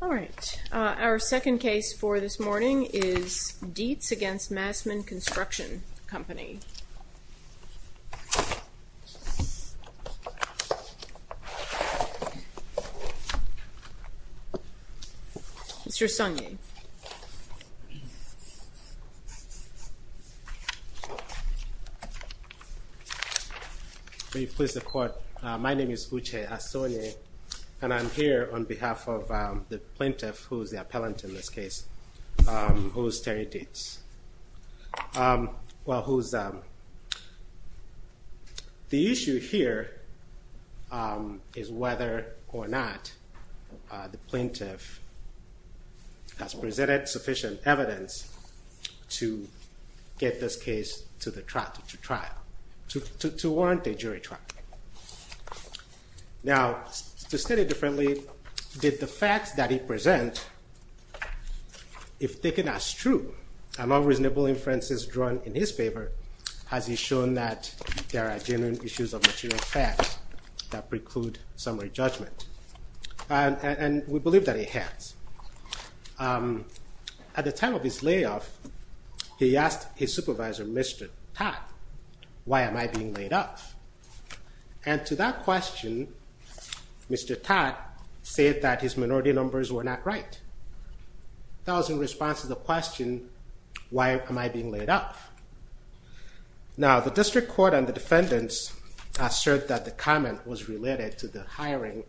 All right, our second case for this morning is Deets v. Massman Construction Company. Mr. Sanye. May it please the court, my name is Uche Asone, and I'm here on behalf of the plaintiff, who is the appellant in this case, who is Terry Deets. The issue here is whether or not the plaintiff has presented sufficient evidence to get this case to the trial, to warrant a jury trial. Now, to state it differently, did the facts that he present, if taken as true, among reasonable inferences drawn in his favor, has he shown that there are genuine issues of material facts that preclude summary judgment? And we believe that he has. At the time of his layoff, he asked his supervisor, Mr. Todd, why am I being laid off? And to that question, Mr. Todd said that his minority numbers were not right. That was in response to the question, why am I being laid off? Now, the district court and the defendants assert that the comment was related to the hiring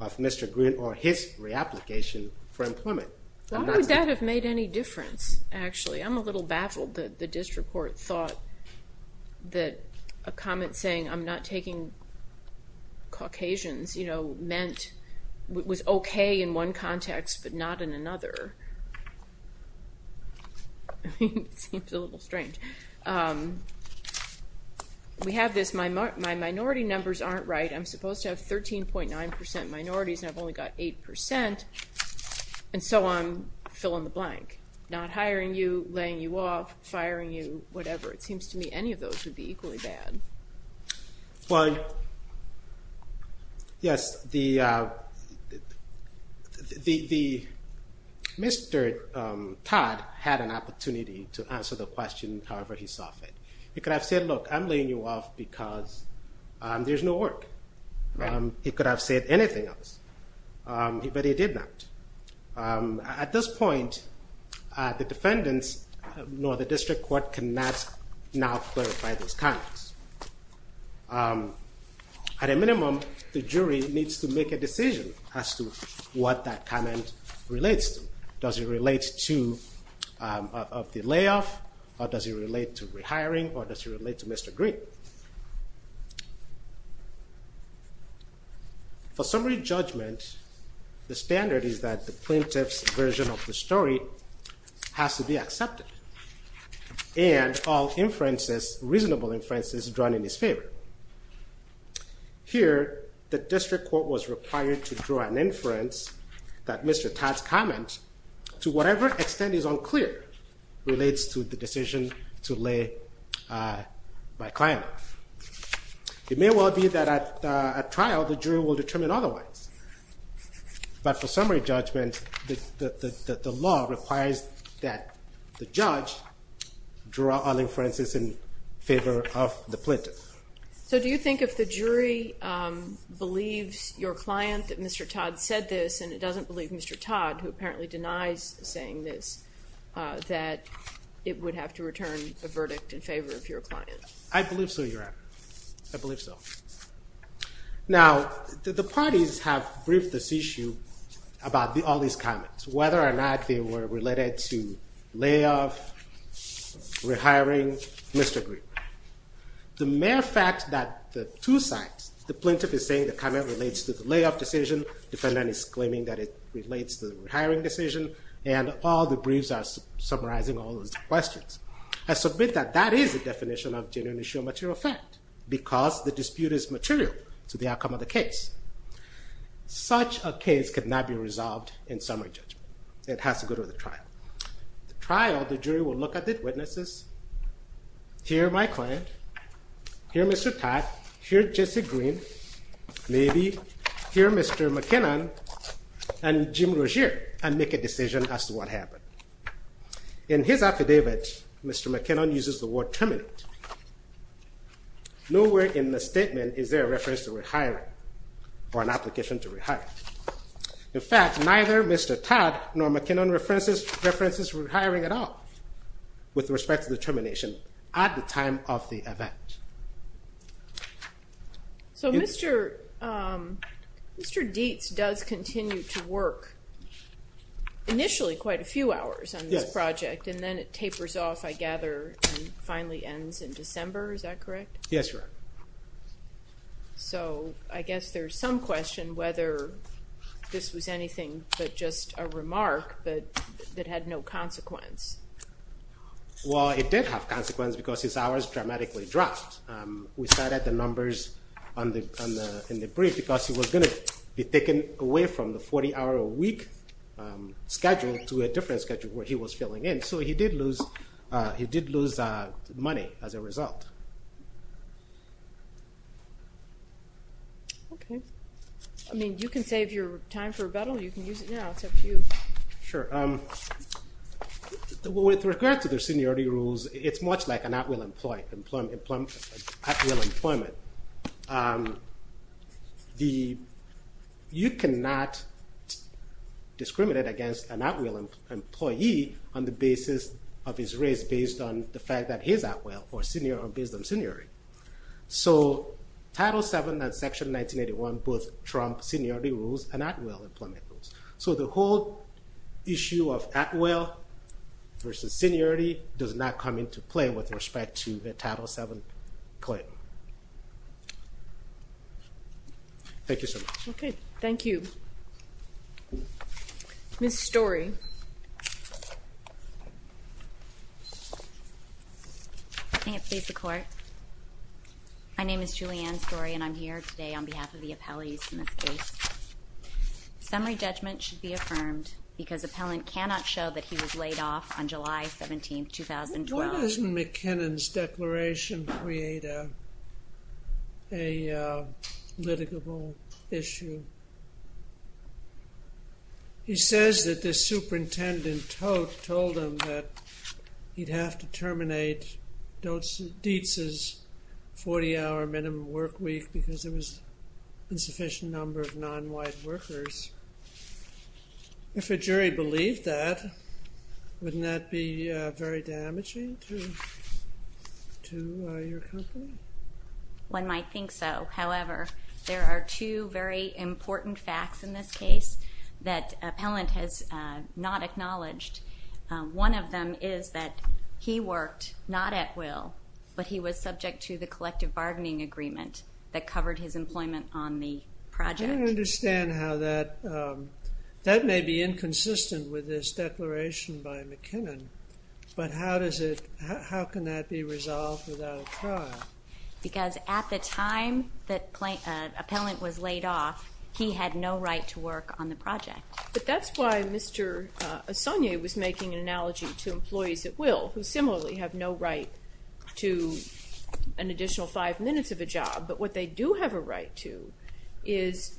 of Mr. Green or his reapplication for employment. Why would that have made any difference, actually? I'm a little baffled that the district court thought that a comment saying, I'm not taking Caucasians, you know, meant it was okay in one context but not in another. It seems a little strange. We have this, my minority numbers aren't right. I'm supposed to have 13.9% minorities and I've only got 8% and so on, fill in the blank. Not hiring you, laying you off, firing you, whatever. It seems to me any of those would be equally bad. Well, yes, Mr. Todd had an opportunity to answer the question however he saw fit. He could have said, look, I'm laying you off because there's no work. He could have said anything else, but he did not. At this point, the defendants nor the district court cannot now clarify those comments. At a minimum, the jury needs to make a decision as to what that comment relates to. Does it relate to the layoff or does it relate to rehiring or does it relate to Mr. Green? For summary judgment, the standard is that the plaintiff's version of the story has to be accepted and all inferences, reasonable inferences drawn in his favor. Here, the district court was required to draw an inference that Mr. Todd's comment, to whatever extent is unclear, relates to the decision to lay by client. It may well be that at trial, the jury will determine otherwise. But for summary judgment, the law requires that the judge draw all inferences in favor of the plaintiff. So do you think if the jury believes your client that Mr. Todd said this and it doesn't believe Mr. Todd, who apparently denies saying this, that it would have to return a verdict in favor of your client? I believe so, Your Honor. I believe so. Now, the parties have briefed this issue about all these comments, whether or not they were related to layoff, rehiring, Mr. Green. The mere fact that the two sides, the plaintiff is saying the comment relates to the layoff decision, defendant is claiming that it relates to the rehiring decision, and all the briefs are summarizing all those questions. I submit that that is the definition of genuinely sure material fact, because the dispute is material to the outcome of the case. Such a case could not be resolved in summary judgment. It has to go to the trial. The trial, the jury will look at the witnesses, hear my client, hear Mr. Todd, hear Jesse Green, maybe hear Mr. McKinnon and Jim Rozier, and make a decision as to what happened. In his affidavit, Mr. McKinnon uses the word terminate. Nowhere in the statement is there a reference to rehiring, or an application to rehiring. In fact, neither Mr. Todd nor McKinnon references rehiring at all, with respect to the termination, at the time of the event. So Mr. Dietz does continue to work initially quite a few hours on this project, and then it tapers off, I gather, and finally ends in December, is that correct? Yes, Your Honor. So I guess there's some question whether this was anything but just a remark that had no consequence. Well, it did have consequence because his hours dramatically dropped. We started the numbers in the brief because he was going to be taken away from the 40-hour-a-week schedule to a different schedule where he was filling in, so he did lose money as a result. Okay. I mean, you can save your time for rebuttal. You can use it now. It's up to you. Sure. With regard to the seniority rules, it's much like an at-will employment. You cannot discriminate against an at-will employee on the basis of his race, based on the fact that he's at-will or based on seniority. So Title VII and Section 1981 both trump seniority rules and at-will employment rules. So the whole issue of at-will versus seniority does not come into play with respect to the Title VII claim. Thank you so much. Okay. Thank you. Ms. Story. May it please the Court. My name is Julianne Story, and I'm here today on behalf of the appellees in this case. Summary judgment should be affirmed because appellant cannot show that he was laid off on July 17, 2012. Why doesn't McKinnon's declaration create a litigable issue? He says that the superintendent told him that he'd have to terminate Dietz's 40-hour minimum work week because there was an insufficient number of non-white workers. If a jury believed that, wouldn't that be very damaging to your company? One might think so. However, there are two very important facts in this case that appellant has not acknowledged. One of them is that he worked not at will, but he was subject to the collective bargaining agreement that covered his employment on the project. I don't understand how that may be inconsistent with this declaration by McKinnon, but how can that be resolved without a trial? Because at the time that appellant was laid off, he had no right to work on the project. But that's why Mr. Assagne was making an analogy to employees at will, who similarly have no right to an additional five minutes of a job. But what they do have a right to is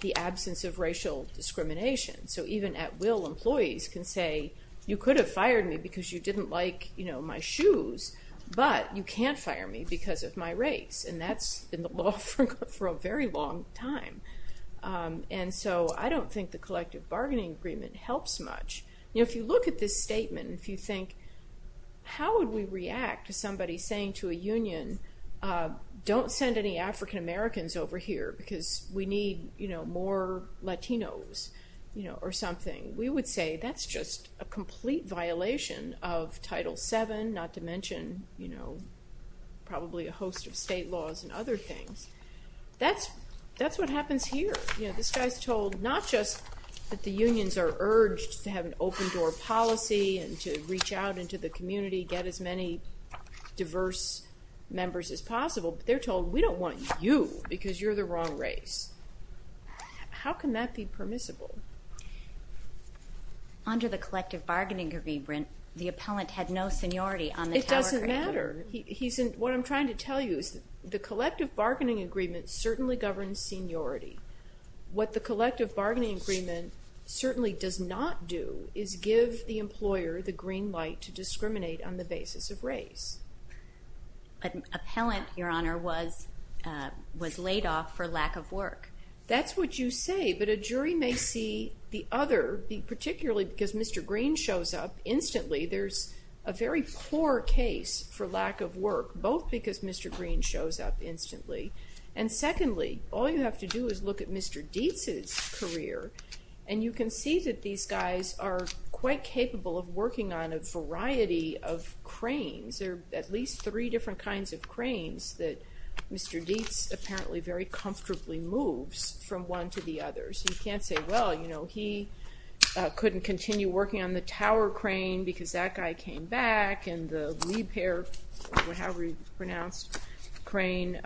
the absence of racial discrimination. So even at will employees can say, you could have fired me because you didn't like my shoes, but you can't fire me because of my race. And that's been the law for a very long time. And so I don't think the collective bargaining agreement helps much. If you look at this statement, if you think, how would we react to somebody saying to a union, don't send any African-Americans over here because we need more Latinos or something, we would say that's just a complete violation of Title VII, not to mention probably a host of state laws and other things. That's what happens here. This guy's told not just that the unions are urged to have an open-door policy and to reach out into the community, get as many diverse members as possible, but they're told we don't want you because you're the wrong race. How can that be permissible? Under the collective bargaining agreement, the appellant had no seniority on the telegraph. It doesn't matter. What I'm trying to tell you is the collective bargaining agreement certainly governs seniority. What the collective bargaining agreement certainly does not do is give the employer the green light to discriminate on the basis of race. An appellant, Your Honor, was laid off for lack of work. That's what you say, but a jury may see the other, particularly because Mr. Green shows up instantly, there's a very poor case for lack of work, both because Mr. Green shows up instantly, and secondly, all you have to do is look at Mr. Dietz's career, and you can see that these guys are quite capable of working on a variety of cranes. There are at least three different kinds of cranes that Mr. Dietz apparently very comfortably moves from one to the other. So you can't say, well, he couldn't continue working on the tower crane because that guy came back and the Liebherr crane, however you pronounce the crane,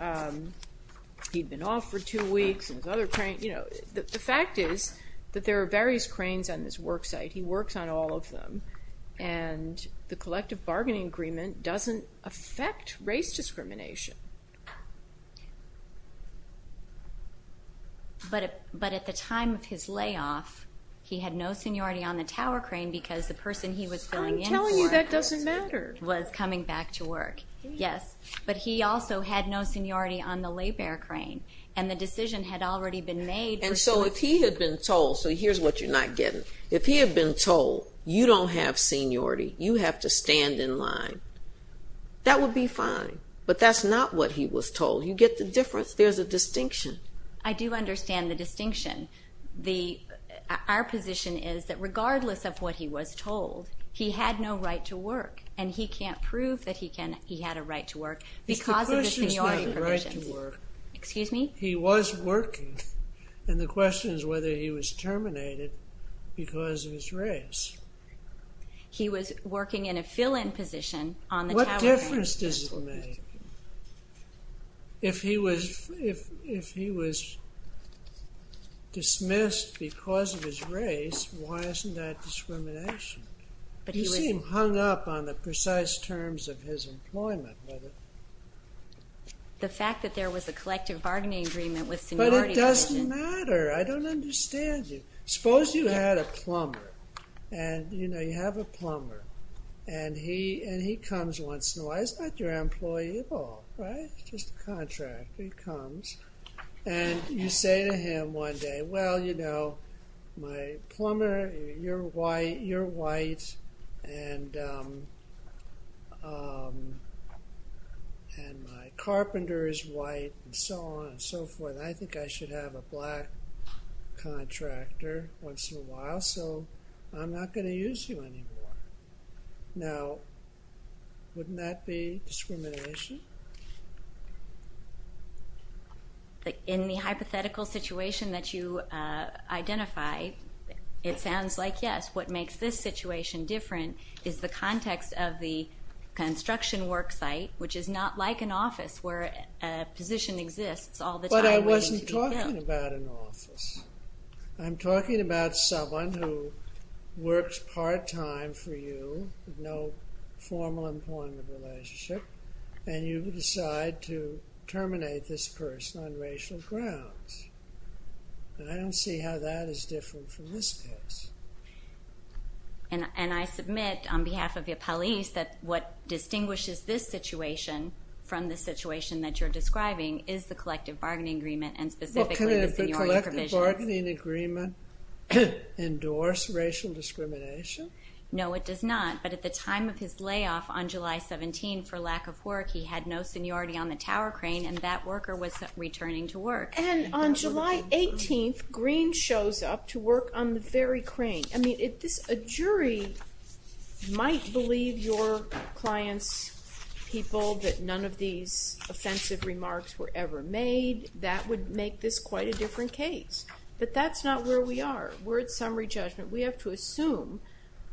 he'd been off for two weeks. The fact is that there are various cranes on this work site. He works on all of them, and the collective bargaining agreement doesn't affect race discrimination. But at the time of his layoff, he had no seniority on the tower crane because the person he was filling in for was coming back to work. Yes, but he also had no seniority on the Liebherr crane, and the decision had already been made. And so if he had been told, so here's what you're not getting, if he had been told, you don't have seniority, you have to stand in line, that would be fine, but that's not what he was told. You get the difference? There's a distinction. I do understand the distinction. Our position is that regardless of what he was told, he had no right to work, and he can't prove that he had a right to work because of the seniority provisions. Excuse me? He was working, and the question is whether he was terminated because of his race. He was working in a fill-in position on the tower crane. What difference does it make? If he was dismissed because of his race, why isn't that discrimination? You seem hung up on the precise terms of his employment. The fact that there was a collective bargaining agreement with seniority provisions. But it doesn't matter. I don't understand you. Suppose you had a plumber, and you have a plumber, and he comes once in a while. He's not your employee at all, right? He's just a contractor. He comes, and you say to him one day, well, you know, my plumber, you're white, and my carpenter is white, and so on and so forth. And I think I should have a black contractor once in a while, so I'm not going to use you anymore. Now, wouldn't that be discrimination? In the hypothetical situation that you identified, it sounds like yes. What makes this situation different is the context of the construction work site, which is not like an office where a position exists all the time waiting to be built. But I wasn't talking about an office. I'm talking about someone who works part-time for you, no formal employment relationship, and you decide to terminate this person on racial grounds. And I don't see how that is different from this case. And I submit on behalf of your police that what distinguishes this situation from the situation that you're describing is the collective bargaining agreement and specifically the seniority provisions. Well, can a collective bargaining agreement endorse racial discrimination? No, it does not. But at the time of his layoff on July 17, for lack of work, he had no seniority on the tower crane, and that worker was returning to work. And on July 18, Green shows up to work on the ferry crane. I mean, a jury might believe your client's people that none of these offensive remarks were ever made. That would make this quite a different case. But that's not where we are. We're at summary judgment. We have to assume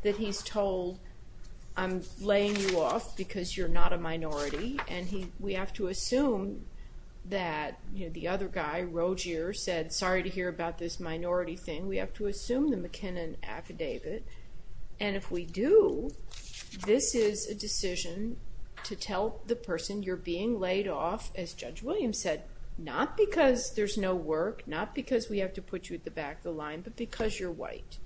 that he's told, I'm laying you off because you're not a minority, and we have to assume that the other guy, Rogeer, said, sorry to hear about this minority thing. We have to assume the McKinnon affidavit. And if we do, this is a decision to tell the person you're being laid off, as Judge Williams said, not because there's no work, not because we have to put you at the back of the line, but because you're white.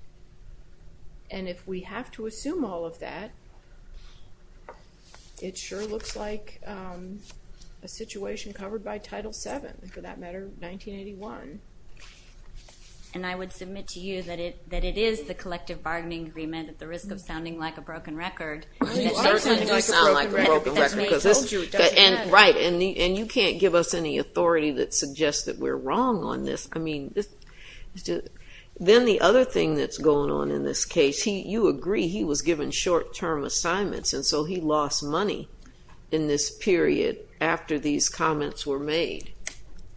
And if we have to assume all of that, it sure looks like a situation covered by Title VII, for that matter, 1981. And I would submit to you that it is the collective bargaining agreement at the risk of sounding like a broken record. It certainly does sound like a broken record. And you can't give us any authority that suggests that we're wrong on this. Then the other thing that's going on in this case, you agree he was given short-term assignments, and so he lost money in this period after these comments were made,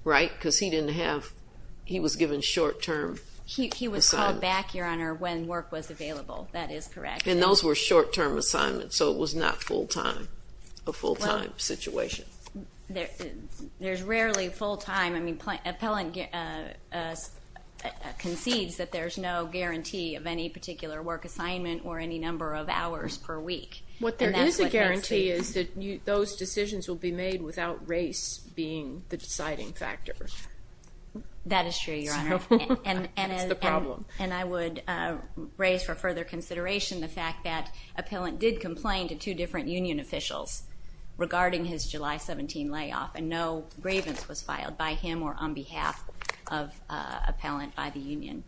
right? Because he was given short-term assignments. He was called back, Your Honor, when work was available. That is correct. And those were short-term assignments, so it was not a full-time situation. There's rarely full-time. I mean, Appellant concedes that there's no guarantee of any particular work assignment or any number of hours per week. What there is a guarantee is that those decisions will be made without race being the deciding factor. That is true, Your Honor. It's the problem. And I would raise for further consideration the fact that Appellant did complain to two different union officials regarding his July 17 layoff, and no grievance was filed by him or on behalf of Appellant by the union,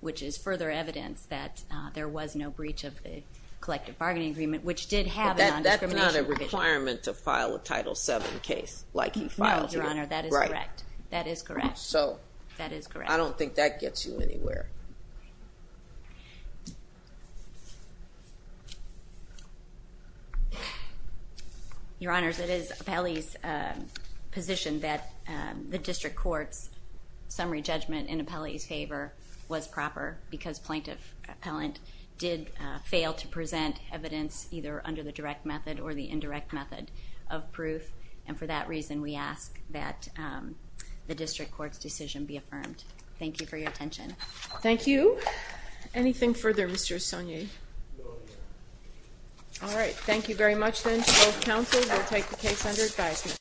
which is further evidence that there was no breach of the collective bargaining agreement, which did have a non-discrimination provision. But that's not a requirement to file a Title VII case like he filed here, right? No, Your Honor, that is correct. That is correct. So I don't think that gets you anywhere. Your Honors, it is Appellee's position that the District Court's summary judgment in Appellee's favor was proper because Plaintiff Appellant did fail to present evidence either under the direct method or the indirect method of proof, and for that reason we ask that the District Court's decision be affirmed. Thank you for your attention. Thank you. No, Your Honor. All right. Thank you very much then to both counsels. We'll take the case under advisement.